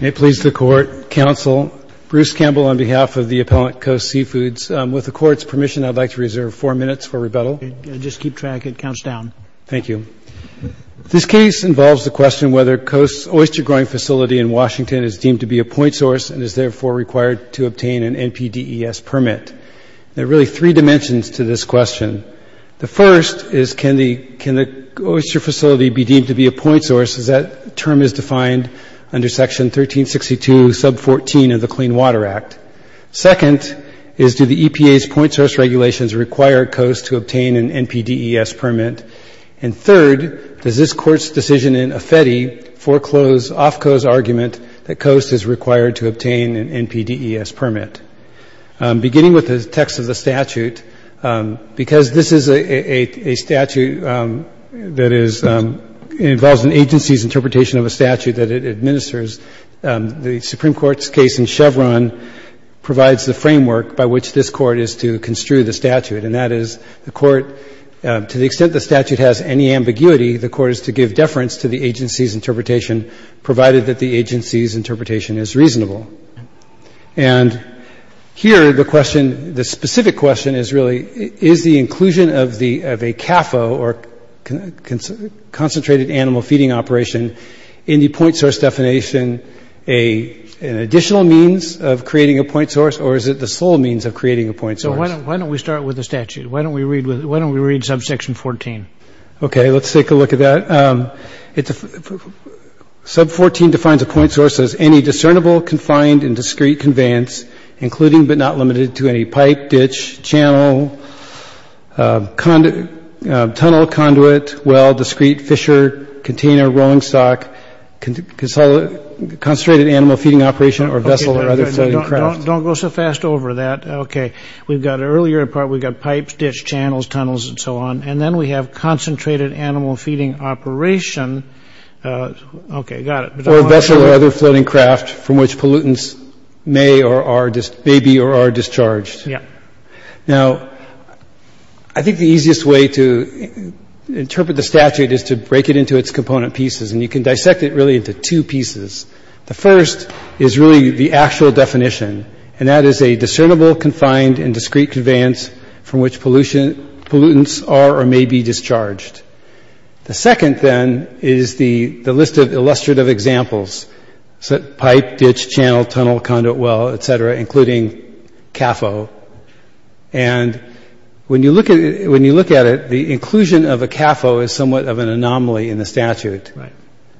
May it please the Court, Counsel, Bruce Campbell on behalf of the appellant, Coast Seafoods. With the Court's permission, I'd like to reserve four minutes for rebuttal. Just keep track. It counts down. Thank you. This case involves the question whether Coast's oyster-growing facility in Washington is deemed to be a point source and is therefore required to obtain an NPDES permit. There are really three dimensions to this question. The first is can the oyster facility be deemed to be a point source, as that term is defined under Section 1362, sub 14 of the Clean Water Act. Second is do the EPA's point source regulations require Coast to obtain an NPDES permit? And third, does this Court's decision in Affedi foreclose Ofco's argument that Coast is required to obtain an NPDES permit? Beginning with the text of the statute, because this is a statute that is ‑‑ involves an agency's interpretation of a statute that it administers, the Supreme Court's case in Chevron provides the framework by which this Court is to construe the statute. And that is the Court, to the extent the statute has any ambiguity, the Court is to give deference to the agency's interpretation, provided that the agency's interpretation is reasonable. And here the question, the specific question is really, is the inclusion of a CAFO, or Concentrated Animal Feeding Operation, in the point source definition an additional means of creating a point source, or is it the sole means of creating a point source? So why don't we start with the statute? Why don't we read sub section 14? Okay, let's take a look at that. Sub 14 defines a point source as any discernible, confined, and discrete conveyance, including but not limited to any pipe, ditch, channel, tunnel, conduit, well, discrete, fissure, container, rolling stock, concentrated animal feeding operation, or vessel, or other floating craft. Okay, don't go so fast over that. Okay, we've got an earlier part, we've got pipes, ditch, channels, tunnels, and so on. And then we have concentrated animal feeding operation. Okay, got it. Or vessel or other floating craft from which pollutants may or are, may be or are discharged. Yeah. Now, I think the easiest way to interpret the statute is to break it into its component pieces, and you can dissect it really into two pieces. The first is really the actual definition, and that is a discernible, confined, and discrete conveyance from which pollutants are or may be discharged. The second, then, is the list of illustrative examples, pipe, ditch, channel, tunnel, conduit, well, et cetera, including CAFO. And when you look at it, the inclusion of a CAFO is somewhat of an anomaly in the statute. Right.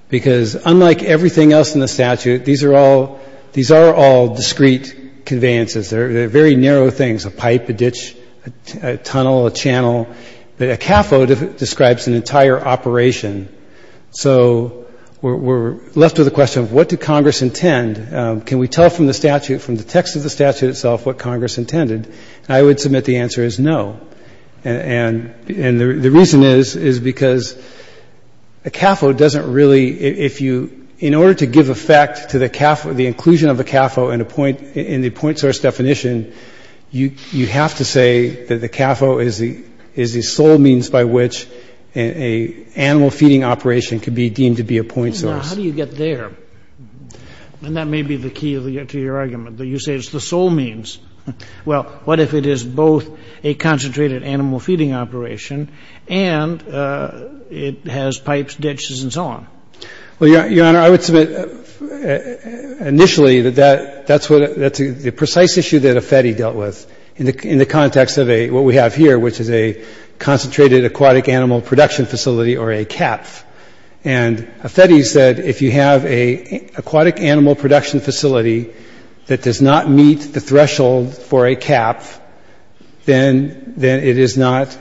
Because unlike everything else in the statute, these are all discrete conveyances. They're very narrow things, a pipe, a ditch, a tunnel, a channel. But a CAFO describes an entire operation. So we're left with a question of what did Congress intend? Can we tell from the statute, from the text of the statute itself, what Congress intended? And I would submit the answer is no. And the reason is, is because a CAFO doesn't really, if you, in order to give effect to the CAFO, the inclusion of a CAFO in the point source definition, you have to say that the CAFO is the sole means by which an animal feeding operation could be deemed to be a point source. Well, now, how do you get there? And that may be the key to your argument, that you say it's the sole means. Well, what if it is both a concentrated animal feeding operation and it has pipes, ditches, and so on? Well, Your Honor, I would submit initially that that's the precise issue that Affetti dealt with in the context of what we have here, which is a concentrated aquatic animal production facility, or a CAPF. And Affetti said if you have an aquatic animal production facility that does not meet the threshold for a CAPF, then it is not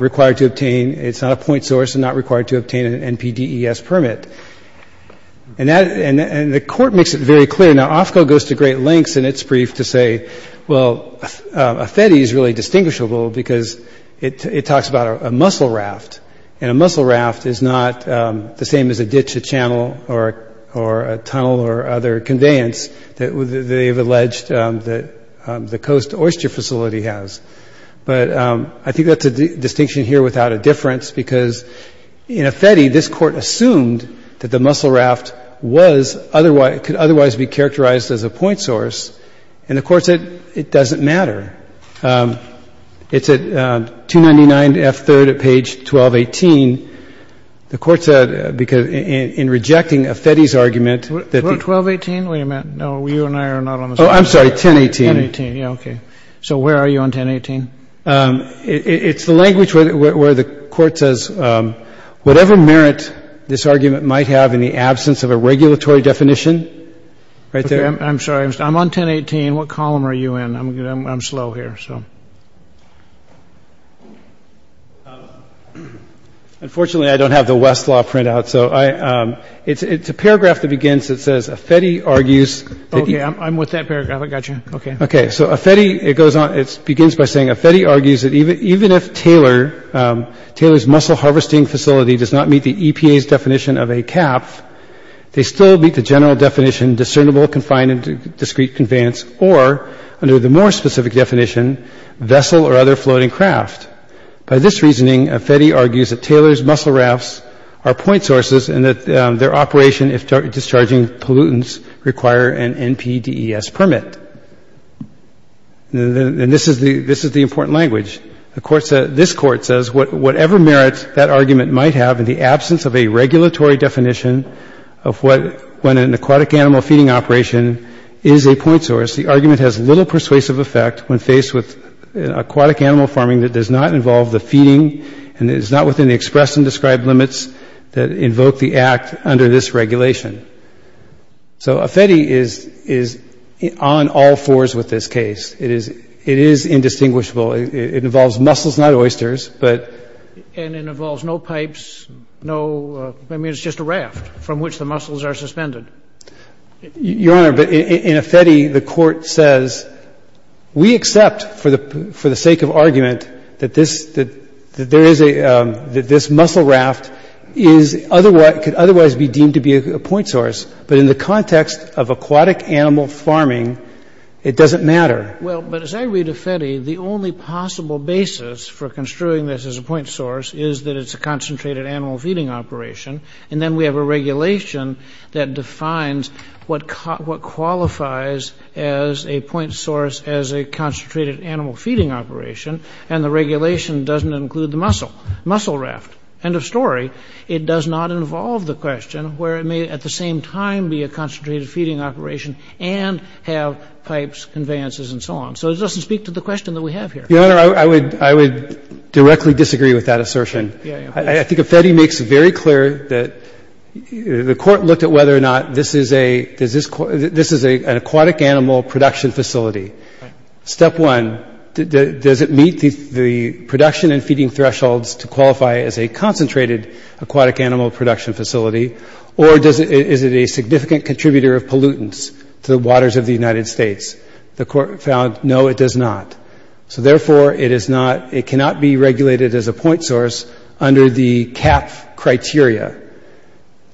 required to obtain, it's not a point source, it's just not required to obtain an NPDES permit. And the Court makes it very clear. Now, Ofco goes to great lengths in its brief to say, well, Affetti is really distinguishable because it talks about a muscle raft, and a muscle raft is not the same as a ditch, a channel, or a tunnel, or other conveyance that they've alleged that the Coast Oyster Facility has. But I think that's a distinction here without a difference, because in Affetti, this Court assumed that the muscle raft could otherwise be characterized as a point source, and the Court said it doesn't matter. It's at 299F3rd at page 1218. The Court said in rejecting Affetti's argument that the... 1218? Wait a minute. No, you and I are not on the same page. Oh, I'm sorry, 1018. 1018, yeah, okay. So where are you on 1018? It's the language where the Court says whatever merit this argument might have in the absence of a regulatory definition, right there. Okay, I'm sorry. I'm on 1018. What column are you in? I'm slow here, so. Unfortunately, I don't have the Westlaw printout, so it's a paragraph that begins, it says, Affetti argues that he... Okay, I'm with that paragraph. I got you. Okay. Okay, so Affetti, it goes on, it begins by saying, Affetti argues that even if Taylor's muscle harvesting facility does not meet the EPA's definition of a CAF, they still meet the general definition, discernible, confined, and discrete conveyance, or under the more specific definition, vessel or other floating craft. By this reasoning, Affetti argues that Taylor's muscle rafts are point sources and that their operation, if discharging pollutants, require an NPDES permit. And this is the important language. This Court says whatever merit that argument might have in the absence of a regulatory definition of what, when an aquatic animal feeding operation is a point source, the argument has little persuasive effect when faced with aquatic animal farming that does not involve the feeding and is not within the expressed and described limits that invoke the Act under this regulation. So Affetti is on all fours with this case. It is indistinguishable. It involves muscles, not oysters, but... And it involves no pipes, no, I mean, it's just a raft from which the muscles are suspended. Your Honor, but in Affetti, the Court says, we accept for the sake of argument that this muscle raft could otherwise be deemed to be a point source, but in the context of aquatic animal farming, it doesn't matter. Well, but as I read Affetti, the only possible basis for construing this as a point source is that it's a concentrated animal feeding operation, and then we have a regulation that defines what qualifies as a point source as a concentrated animal feeding operation, and the regulation doesn't include the muscle, muscle raft. End of story. It does not involve the question where it may at the same time be a concentrated feeding operation and have pipes, conveyances, and so on. So it doesn't speak to the question that we have here. Your Honor, I would directly disagree with that assertion. I think Affetti makes very clear that the Court looked at whether or not this is an aquatic animal production facility. Step one, does it meet the production and feeding thresholds to qualify as a concentrated aquatic animal production facility, or is it a significant contributor of pollutants to the waters of the United States? The Court found, no, it does not. So therefore, it cannot be regulated as a point source under the CAPF criteria.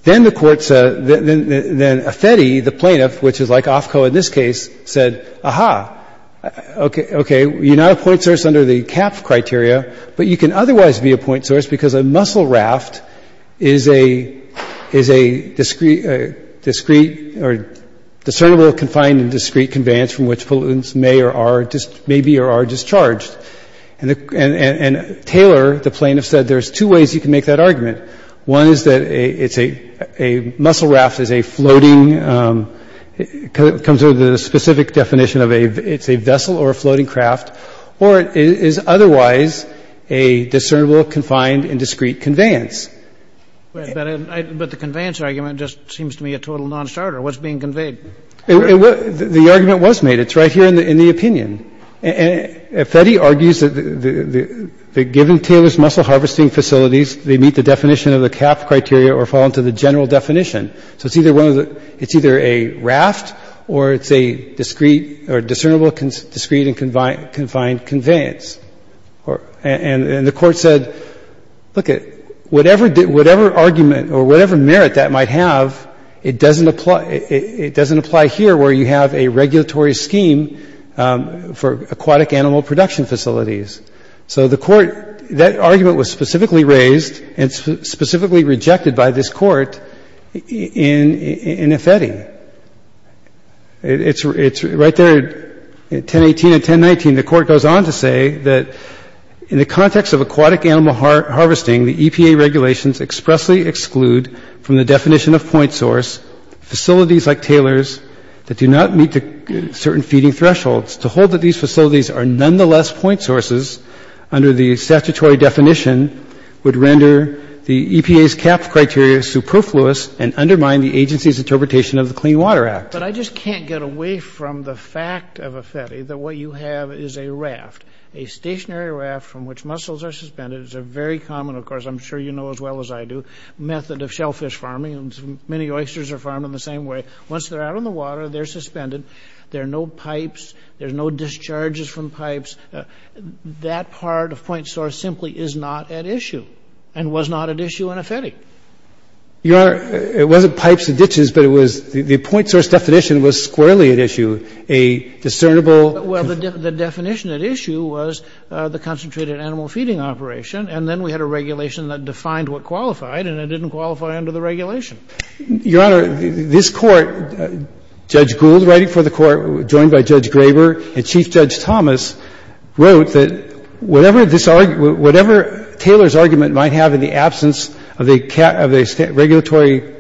Then Affetti, the plaintiff, which is like Ofco in this case, said, Aha, okay, you're not a point source under the CAPF criteria, but you can otherwise be a point source because a muscle raft is a discernible, confined, and discrete conveyance from which pollutants may be or are discharged. And Taylor, the plaintiff, said there's two ways you can make that argument. One is that a muscle raft is a floating – comes under the specific definition of a – it's a vessel or a floating craft, or it is otherwise a discernible, confined, and discrete conveyance. But the conveyance argument just seems to me a total nonstarter. What's being conveyed? The argument was made. It's right here in the opinion. And Affetti argues that given Taylor's muscle harvesting facilities, they meet the definition of the CAPF criteria or fall into the general definition. So it's either one of the – it's either a raft or it's a discrete or discernible, discrete, and confined conveyance. And the Court said, lookit, whatever argument or whatever merit that might have, it doesn't apply – it doesn't apply here where you have a regulatory scheme for aquatic animal production facilities. So the Court – that argument was specifically raised and specifically rejected by this Court in Affetti. It's right there at 1018 and 1019. The Court goes on to say that in the context of aquatic animal harvesting, the EPA regulations expressly exclude from the definition of point source facilities like Taylor's that do not meet the certain feeding thresholds. To hold that these facilities are nonetheless point sources under the statutory definition would render the EPA's CAPF criteria superfluous and undermine the agency's interpretation of the Clean Water Act. But I just can't get away from the fact of Affetti that what you have is a raft, a stationary raft from which muscles are suspended. It's a very common – of course, I'm sure you know as well as I do – method of shellfish farming. Many oysters are farmed in the same way. Once they're out on the water, they're suspended. There are no pipes. There's no discharges from pipes. That part of point source simply is not at issue and was not at issue in Affetti. Your Honor, it wasn't pipes and ditches, but it was – the point source definition was squarely at issue, a discernible – Well, that's a very good question. I think that's a very good question. And then we had a regulation that defined what qualified, and it didn't qualify under the regulation. Your Honor, this Court, Judge Gould writing for the Court joined by Judge Graber and Chief Judge Thomas, wrote that whatever this – whatever Taylor's argument might have in the absence of a regulatory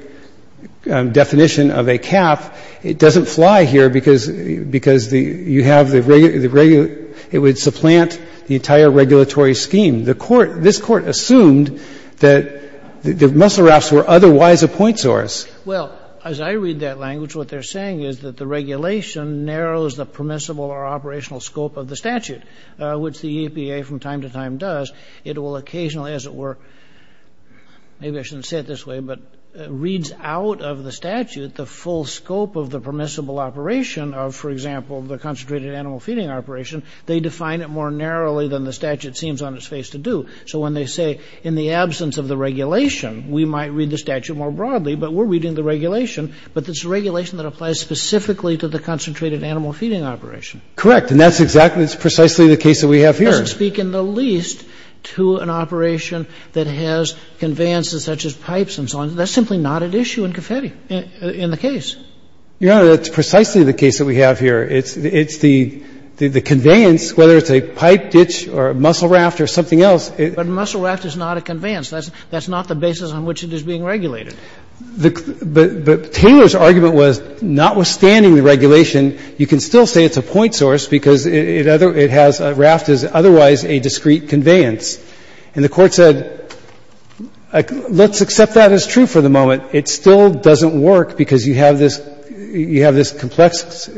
definition of a cap, it doesn't fly here because you have the – it would supplant the entire regulatory scheme. This Court assumed that the muscle rafts were otherwise a point source. Well, as I read that language, what they're saying is that the regulation narrows the permissible or operational scope of the statute, which the EPA from time to time does. It will occasionally, as it were – maybe I shouldn't say it this way, but reads out of the statute the full scope of the permissible operation of, for example, the concentrated animal feeding operation. They define it more narrowly than the statute seems on its face to do. So when they say in the absence of the regulation, we might read the statute more broadly, but we're reading the regulation, but it's a regulation that applies specifically to the concentrated animal feeding operation. Correct, and that's exactly – that's precisely the case that we have here. But that doesn't speak in the least to an operation that has conveyances such as pipes and so on. That's simply not at issue in Confetti, in the case. Your Honor, that's precisely the case that we have here. It's the conveyance, whether it's a pipe ditch or a muscle raft or something else. But a muscle raft is not a conveyance. That's not the basis on which it is being regulated. But Taylor's argument was, notwithstanding the regulation, you can still say it's a point source because it has – a raft is otherwise a discrete conveyance. And the Court said, let's accept that as true for the moment. It still doesn't work because you have this – you have this complex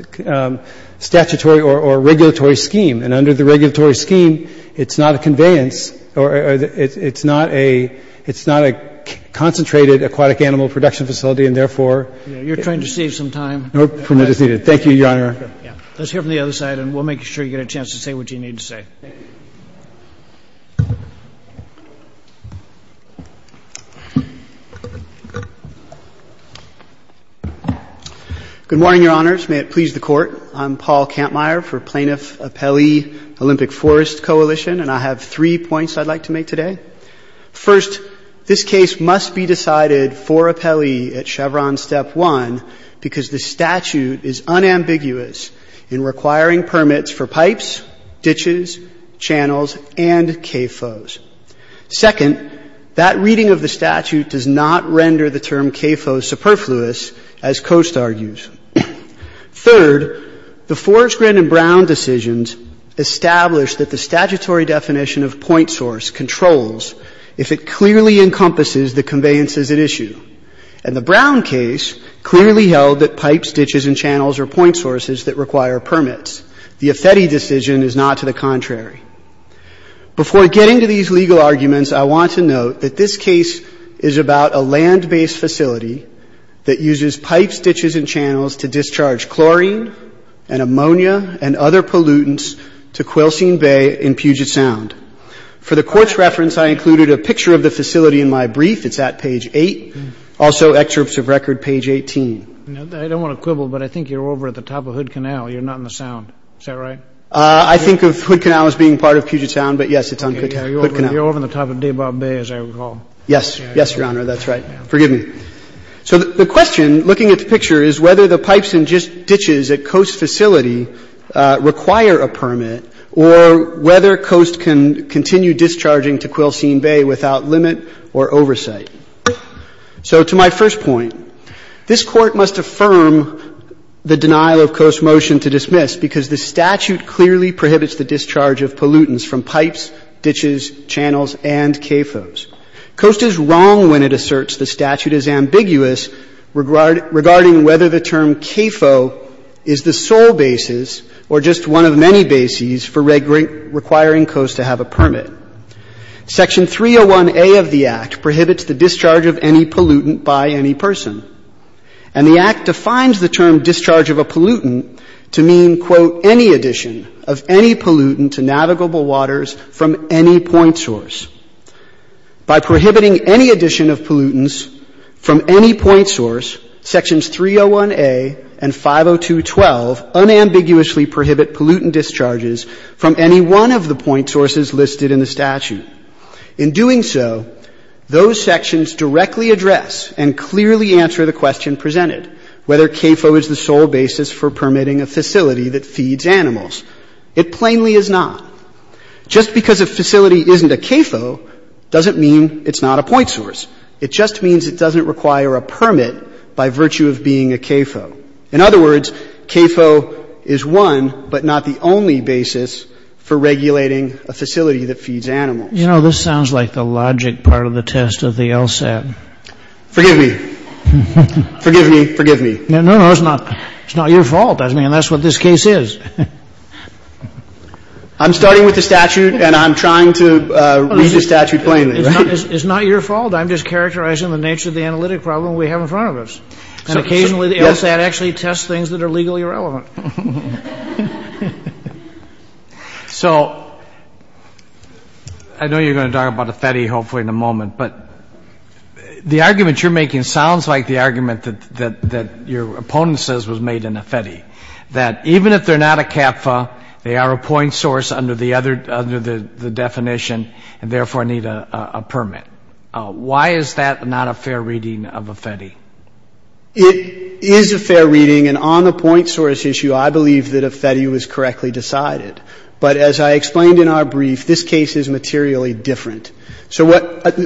statutory or regulatory scheme. And under the regulatory scheme, it's not a conveyance or it's not a – it's not a concentrated aquatic animal production facility, and therefore – You're trying to save some time. No. Thank you, Your Honor. Yeah. Let's hear from the other side, and we'll make sure you get a chance to say what you need to say. Thank you. Good morning, Your Honors. May it please the Court. I'm Paul Kampmeyer for Plaintiff-Appellee Olympic Forest Coalition, and I have three points I'd like to make today. First, this case must be decided for appellee at Chevron Step 1 because the statute is unambiguous in requiring permits for pipes, ditches, channels, and CAFOs. Second, that reading of the statute does not render the term CAFO superfluous, as Coast argues. Third, the Forrest-Grenn and Brown decisions establish that the statutory definition of point source controls if it clearly encompasses the conveyances at issue. And the Brown case clearly held that pipes, ditches, and channels are point sources that require permits. The Ifeti decision is not to the contrary. Before getting to these legal arguments, I want to note that this case is about a land-based facility that uses pipes, ditches, and channels to discharge chlorine and ammonia and other pollutants to Quail Seen Bay in Puget Sound. For the Court's reference, I included a picture of the facility in my brief. It's at page 8. Also, excerpts of record, page 18. I don't want to quibble, but I think you're over at the top of Hood Canal. You're not in the Sound. Is that right? I think of Hood Canal as being part of Puget Sound, but, yes, it's on Hood Canal. You're over on the top of Debaugh Bay, as I recall. Yes. Yes, Your Honor. That's right. Forgive me. So the question, looking at the picture, is whether the pipes and ditches at Coast facility require a permit or whether Coast can continue discharging to Quail Seen Bay without limit or oversight. So to my first point, this Court must affirm the denial of Coast's motion to dismiss because the statute clearly prohibits the discharge of pollutants from pipes, ditches, channels, and CAFOs. Coast is wrong when it asserts the statute is ambiguous regarding whether the term CAFO is the sole basis or just one of many bases for requiring Coast to have a permit. Section 301A of the Act prohibits the discharge of any pollutant by any person. And the Act defines the term discharge of a pollutant to mean, quote, any addition of any pollutant to navigable waters from any point source. By prohibiting any addition of pollutants from any point source, Sections 301A and 502.12 unambiguously prohibit pollutant discharges from any one of the point sources listed in the statute. In doing so, those sections directly address and clearly answer the question presented, whether CAFO is the sole basis for permitting a facility that feeds animals. It plainly is not. Just because a facility isn't a CAFO doesn't mean it's not a point source. It just means it doesn't require a permit by virtue of being a CAFO. In other words, CAFO is one but not the only basis for regulating a facility that feeds animals. You know, this sounds like the logic part of the test of the LSAT. Forgive me. Forgive me. Forgive me. No, no, it's not. It's not your fault. I mean, that's what this case is. I'm starting with the statute and I'm trying to read the statute plainly. It's not your fault. I'm just characterizing the nature of the analytic problem we have in front of us. And occasionally the LSAT actually tests things that are legally relevant. So I know you're going to talk about a FETI hopefully in a moment, but the argument you're making sounds like the argument that your opponent says was made in a FETI, that even if they're not a CAFO, they are a point source under the definition and therefore need a permit. Why is that not a fair reading of a FETI? It is a fair reading. And on the point source issue, I believe that a FETI was correctly decided. But as I explained in our brief, this case is materially different. So what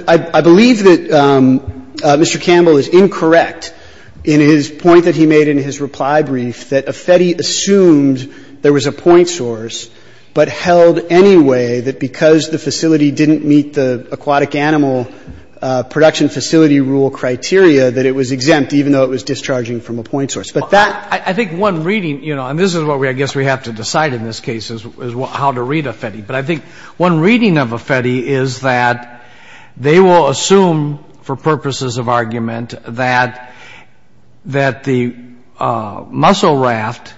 I believe that Mr. Campbell is incorrect in his point that he made in his reply brief, that a FETI assumed there was a point source, but held anyway that because the facility didn't meet the aquatic animal production facility rule criteria, that it was exempt even though it was discharging from a point source. But that ---- I think one reading, you know, and this is what I guess we have to decide in this case is how to read a FETI. But I think one reading of a FETI is that they will assume for purposes of argument that the muscle raft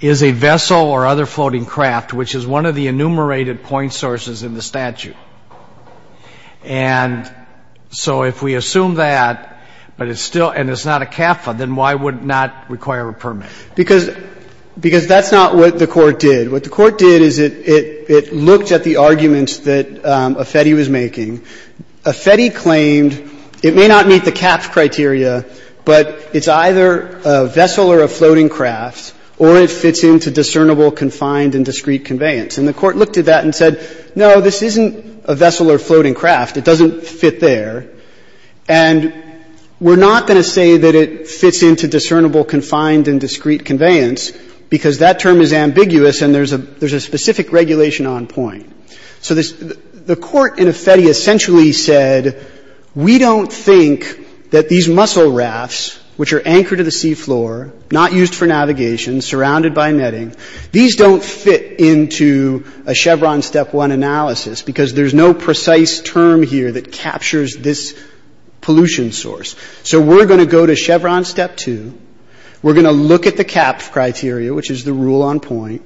is a vessel or other floating craft, which is one of the enumerated point sources in the statute. And so if we assume that, but it's still ---- and it's not a CAFO, then why would it not require a permit? Because that's not what the Court did. What the Court did is it looked at the arguments that a FETI was making. A FETI claimed it may not meet the CAPS criteria, but it's either a vessel or a floating craft, or it fits into discernible, confined, and discrete conveyance. And the Court looked at that and said, no, this isn't a vessel or floating craft. It doesn't fit there. And we're not going to say that it fits into discernible, confined, and discrete conveyance, because that term is ambiguous and there's a specific regulation on point. So the Court in a FETI essentially said, we don't think that these muscle rafts, which are anchored to the seafloor, not used for navigation, surrounded by netting, these don't fit into a Chevron Step 1 analysis because there's no precise term here that captures this pollution source. So we're going to go to Chevron Step 2. We're going to look at the CAPS criteria, which is the rule on point.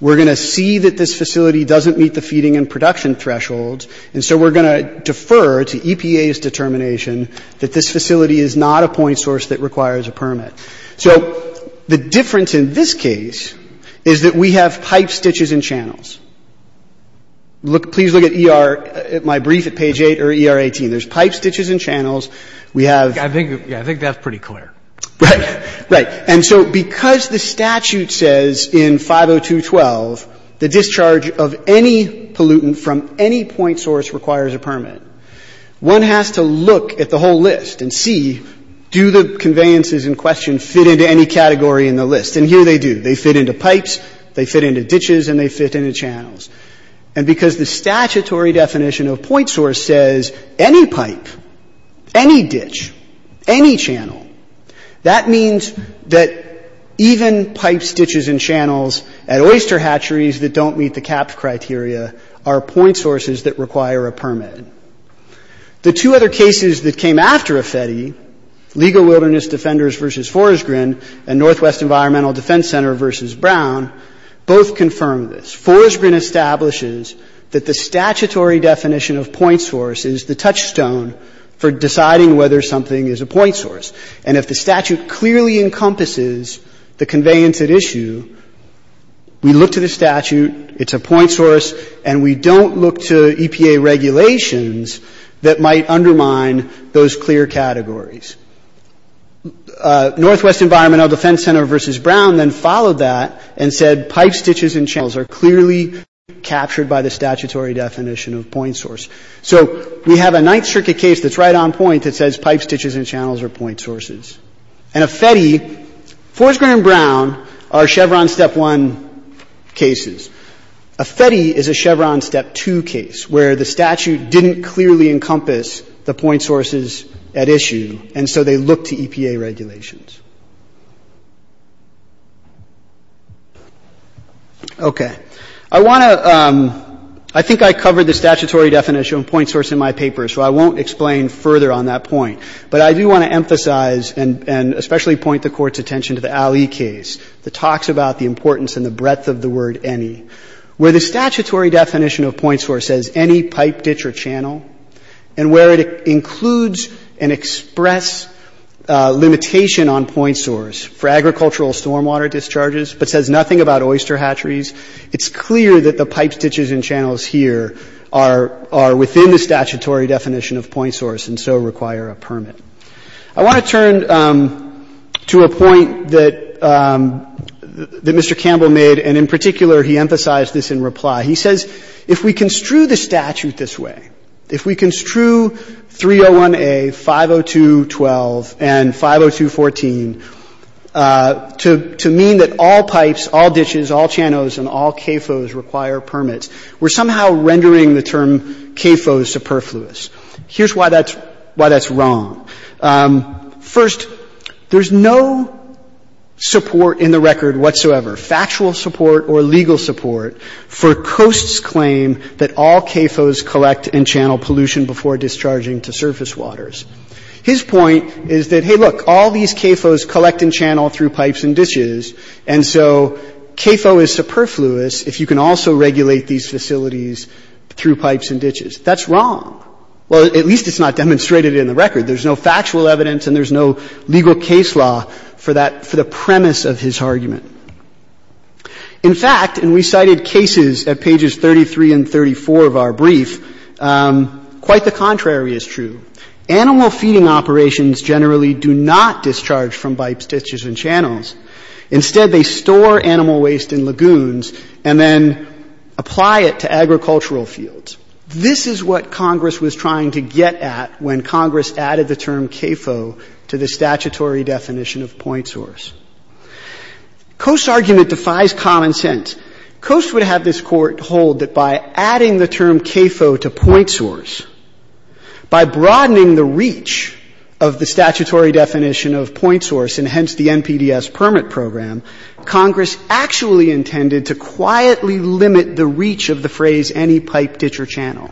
We're going to see that this facility doesn't meet the feeding and production thresholds, and so we're going to defer to EPA's determination that this facility is not a point source that requires a permit. So the difference in this case is that we have pipe stitches and channels. Please look at ER at my brief at page 8 or ER 18. There's pipe stitches and channels. We have — I think that's pretty clear. Right. Right. And so because the statute says in 502.12 the discharge of any pollutant from any point source requires a permit, one has to look at the whole list and see do the conveyances in question fit into any category in the list. And here they do. They fit into pipes. They fit into ditches. And they fit into channels. And because the statutory definition of point source says any pipe, any ditch, any channel, that means that even pipe stitches and channels at oyster hatcheries that don't meet the CAPS criteria are point sources that require a permit. The two other cases that came after AFETI, Legal Wilderness Defenders v. Forsgren and Northwest Environmental Defense Center v. Brown, both confirm this. Forsgren establishes that the statutory definition of point source is the touchstone for deciding whether something is a point source. And if the statute clearly encompasses the conveyance at issue, we look to the statute. It's a point source. And we don't look to EPA regulations that might undermine those clear categories. Northwest Environmental Defense Center v. Brown then followed that and said pipe stitches and channels are clearly captured by the statutory definition of point source. So we have a Ninth Circuit case that's right on point that says pipe stitches and channels are point sources. And AFETI, Forsgren and Brown are Chevron Step 1 cases. AFETI is a Chevron Step 2 case where the statute didn't clearly encompass the point sources at issue, and so they look to EPA regulations. Okay. I want to ‑‑ I think I covered the statutory definition of point source in my paper, so I won't explain further on that point. But I do want to emphasize and especially point the Court's attention to the Alley case that talks about the importance and the breadth of the word any. Where the statutory definition of point source says any pipe, ditch, or channel, and where it includes an express limitation on point source for agricultural stormwater discharges but says nothing about oyster hatcheries, it's clear that the pipe stitches and channels here are within the statutory definition of point source and so require a permit. I want to turn to a point that Mr. Campbell made, and in particular he emphasized this in reply. He says if we construe the statute this way, if we construe 301A, 502.12, and 502.14, to mean that all pipes, all ditches, all channels, and all CAFOs require permits, we're somehow rendering the term CAFO superfluous. Here's why that's wrong. First, there's no support in the record whatsoever, factual support or legal support, for Coast's claim that all CAFOs collect and channel pollution before discharging to surface waters. His point is that, hey, look, all these CAFOs collect and channel through pipes and ditches, and so CAFO is superfluous if you can also regulate these facilities through pipes and ditches. That's wrong. Well, at least it's not demonstrated in the record. There's no factual evidence and there's no legal case law for the premise of his argument. In fact, and we cited cases at pages 33 and 34 of our brief, quite the contrary is true. Animal feeding operations generally do not discharge from pipes, ditches, and channels. Instead, they store animal waste in lagoons and then apply it to agricultural fields. This is what Congress was trying to get at when Congress added the term CAFO to the statutory definition of point source. Coast's argument defies common sense. Coast would have this Court hold that by adding the term CAFO to point source, by broadening the reach of the statutory definition of point source and hence the NPDES permit program, Congress actually intended to quietly limit the reach of the phrase any pipe, ditch, or channel.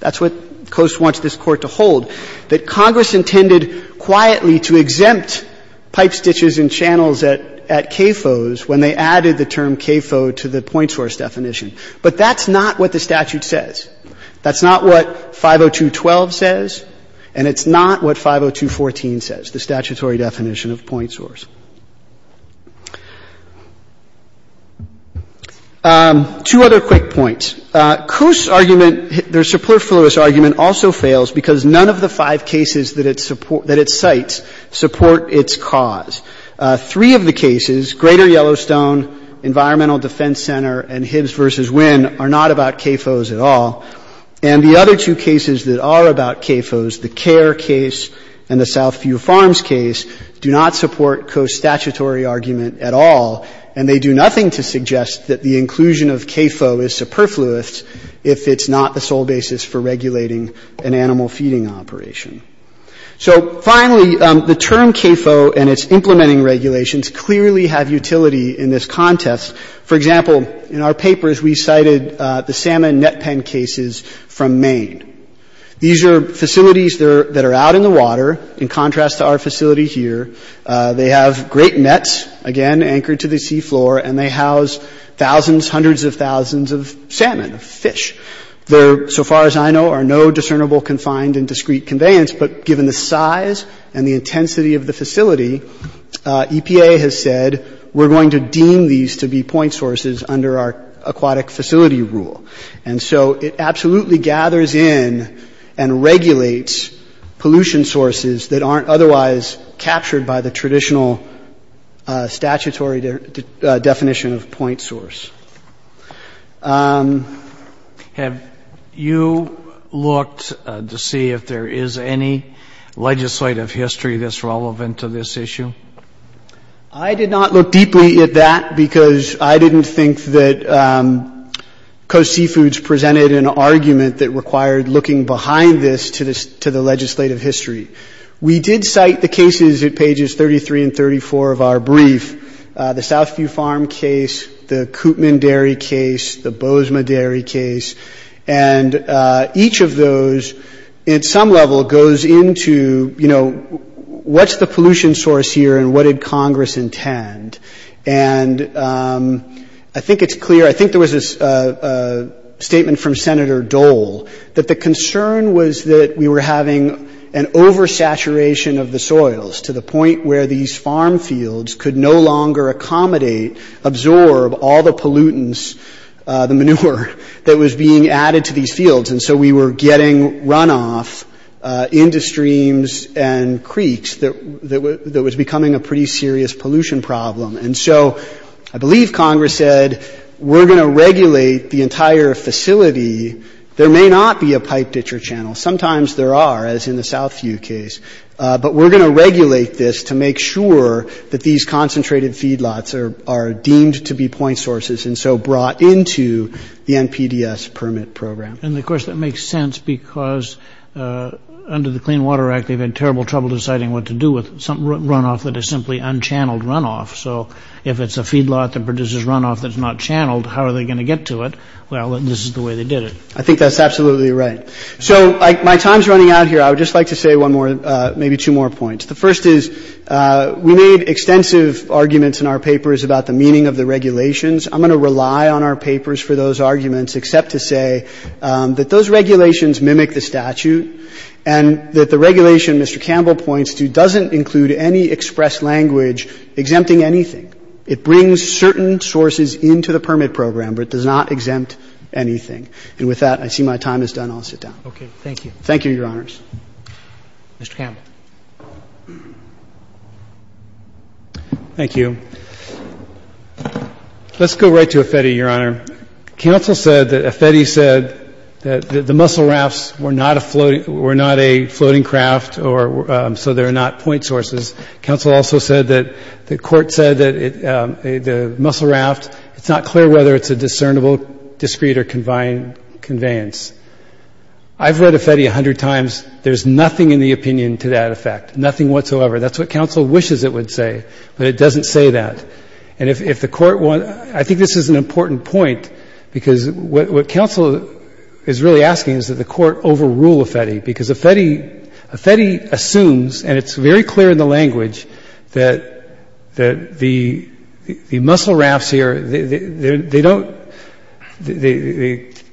That's what Coast wants this Court to hold, that Congress intended quietly to exempt pipe, ditches, and channels at CAFOs when they added the term CAFO to the point source definition. But that's not what the statute says. That's not what 502.12 says, and it's not what 502.14 says, the statutory definition of point source. Two other quick points. Coast's argument, their superfluous argument also fails because none of the five cases that it cites support its cause. Three of the cases, Greater Yellowstone, Environmental Defense Center, and Hibbs v. Winn are not about CAFOs at all. And the other two cases that are about CAFOs, the CARE case and the Southview Farms case, do not support Coast's statutory argument at all, and they do nothing to suggest that the inclusion of CAFO is superfluous if it's not the sole basis for regulating an animal feeding operation. So finally, the term CAFO and its implementing regulations clearly have utility in this context. For example, in our papers, we cited the salmon net pen cases from Maine. These are facilities that are out in the water. In contrast to our facility here, they have great nets, again, anchored to the seafloor, and they house thousands, hundreds of thousands of salmon, of fish. They're, so far as I know, are no discernible confined and discrete conveyance, but given the size and the intensity of the facility, EPA has said, we're going to deem these to be point sources under our aquatic facility rule. And so it absolutely gathers in and regulates pollution sources that aren't otherwise captured by the traditional statutory definition of point source. Have you looked to see if there is any legislative history that's relevant to this issue? I did not look deeply at that because I didn't think that Coast Seafoods presented an argument that required looking behind this to the legislative history. We did cite the cases at pages 33 and 34 of our brief. The Southview Farm case, the Koopman Dairy case, the Bozema Dairy case, and each of those, at some level, goes into, you know, what's the pollution source here and what did Congress intend? And I think it's clear, I think there was a statement from Senator Dole, that the concern was that we were having an oversaturation of the soils to the point where these farm fields could no longer accommodate, absorb all the pollutants, the manure that was being added to these fields. And so we were getting runoff into streams and creeks that was becoming a pretty serious pollution problem. And so I believe Congress said, we're going to regulate the entire facility. There may not be a pipe ditcher channel. Sometimes there are, as in the Southview case. But we're going to regulate this to make sure that these concentrated feedlots are deemed to be point sources and so brought into the NPDES permit program. And, of course, that makes sense because under the Clean Water Act, they've had terrible trouble deciding what to do with runoff that is simply unchanneled runoff. So if it's a feedlot that produces runoff that's not channeled, how are they going to get to it? Well, this is the way they did it. I think that's absolutely right. So my time is running out here. I would just like to say one more, maybe two more points. The first is we made extensive arguments in our papers about the meaning of the regulations. I'm going to rely on our papers for those arguments except to say that those regulations mimic the statute and that the regulation Mr. Campbell points to doesn't include any express language exempting anything. It brings certain sources into the permit program, but it does not exempt anything. And with that, I see my time is done. I'll sit down. Roberts. Okay. Thank you. Thank you, Your Honors. Mr. Campbell. Thank you. Let's go right to Affetti, Your Honor. Counsel said that Affetti said that the mussel rafts were not a floating craft or so they're not point sources. Counsel also said that the Court said that the mussel raft, it's not clear whether it's a discernible, discrete, or conveyance. I've read Affetti a hundred times. There's nothing in the opinion to that effect, nothing whatsoever. That's what counsel wishes it would say, but it doesn't say that. And if the Court wants to, I think this is an important point, because what counsel is really asking is that the Court overrule Affetti, because Affetti assumes, and it's very clear in the language, that the mussel rafts here, they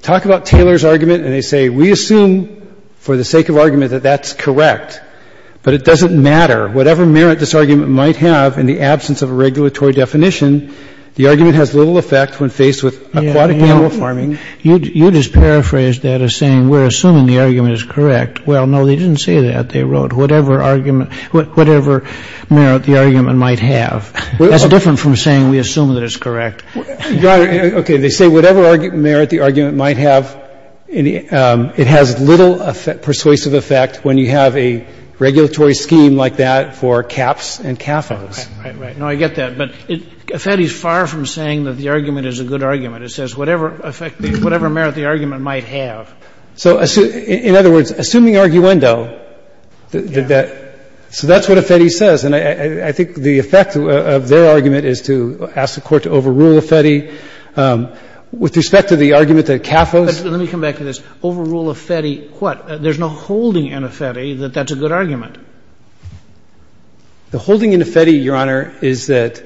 talk about Taylor's argument and they say, we assume for the sake of argument that that's correct, but it doesn't matter. Whatever merit this argument might have in the absence of a regulatory definition, the argument has little effect when faced with aquatic animal farming. You just paraphrased that as saying we're assuming the argument is correct. Well, no, they didn't say that. They wrote whatever argument, whatever merit the argument might have. That's different from saying we assume that it's correct. Okay. They say whatever merit the argument might have, it has little persuasive effect when you have a regulatory scheme like that for caps and cafos. Right, right, right. No, I get that. But Affetti is far from saying that the argument is a good argument. It says whatever effect, whatever merit the argument might have. So in other words, assuming arguendo, that so that's what Affetti says. And I think the effect of their argument is to ask the Court to overrule Affetti with respect to the argument that cafos. Let me come back to this. Overrule Affetti, what? There's no holding in Affetti that that's a good argument. The holding in Affetti, Your Honor, is that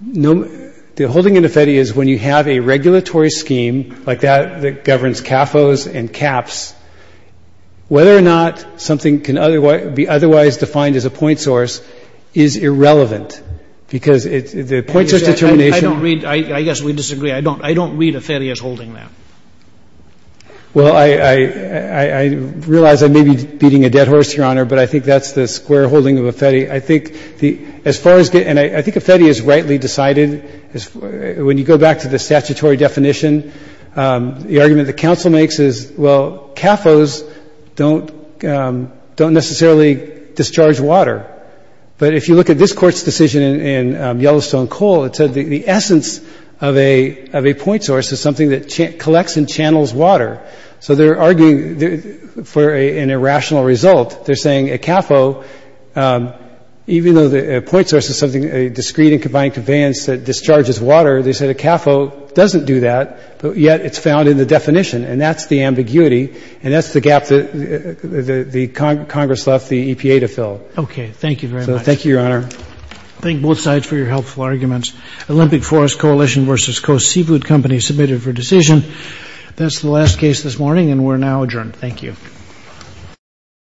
no the holding in Affetti is when you have a regulatory scheme like that that governs cafos and caps, whether or not something can be otherwise defined as a point source is irrelevant, because the point source determination — I don't read — I guess we disagree. I don't read Affetti as holding that. Well, I realize I may be beating a dead horse, Your Honor, but I think that's the square holding of Affetti. As far as — and I think Affetti is rightly decided. When you go back to the statutory definition, the argument the counsel makes is, well, cafos don't necessarily discharge water. But if you look at this Court's decision in Yellowstone Coal, it said the essence of a point source is something that collects and channels water. So they're arguing for an irrational result. They're saying a cafo, even though a point source is something, a discrete and combined conveyance that discharges water, they said a cafo doesn't do that, but yet it's found in the definition. And that's the ambiguity, and that's the gap that Congress left the EPA to fill. Okay. Thank you very much. Thank you, Your Honor. Thank both sides for your helpful arguments. Olympic Forest Coalition v. Coast Seafood Company submitted for decision. That's the last case this morning, and we're now adjourned. Thank you.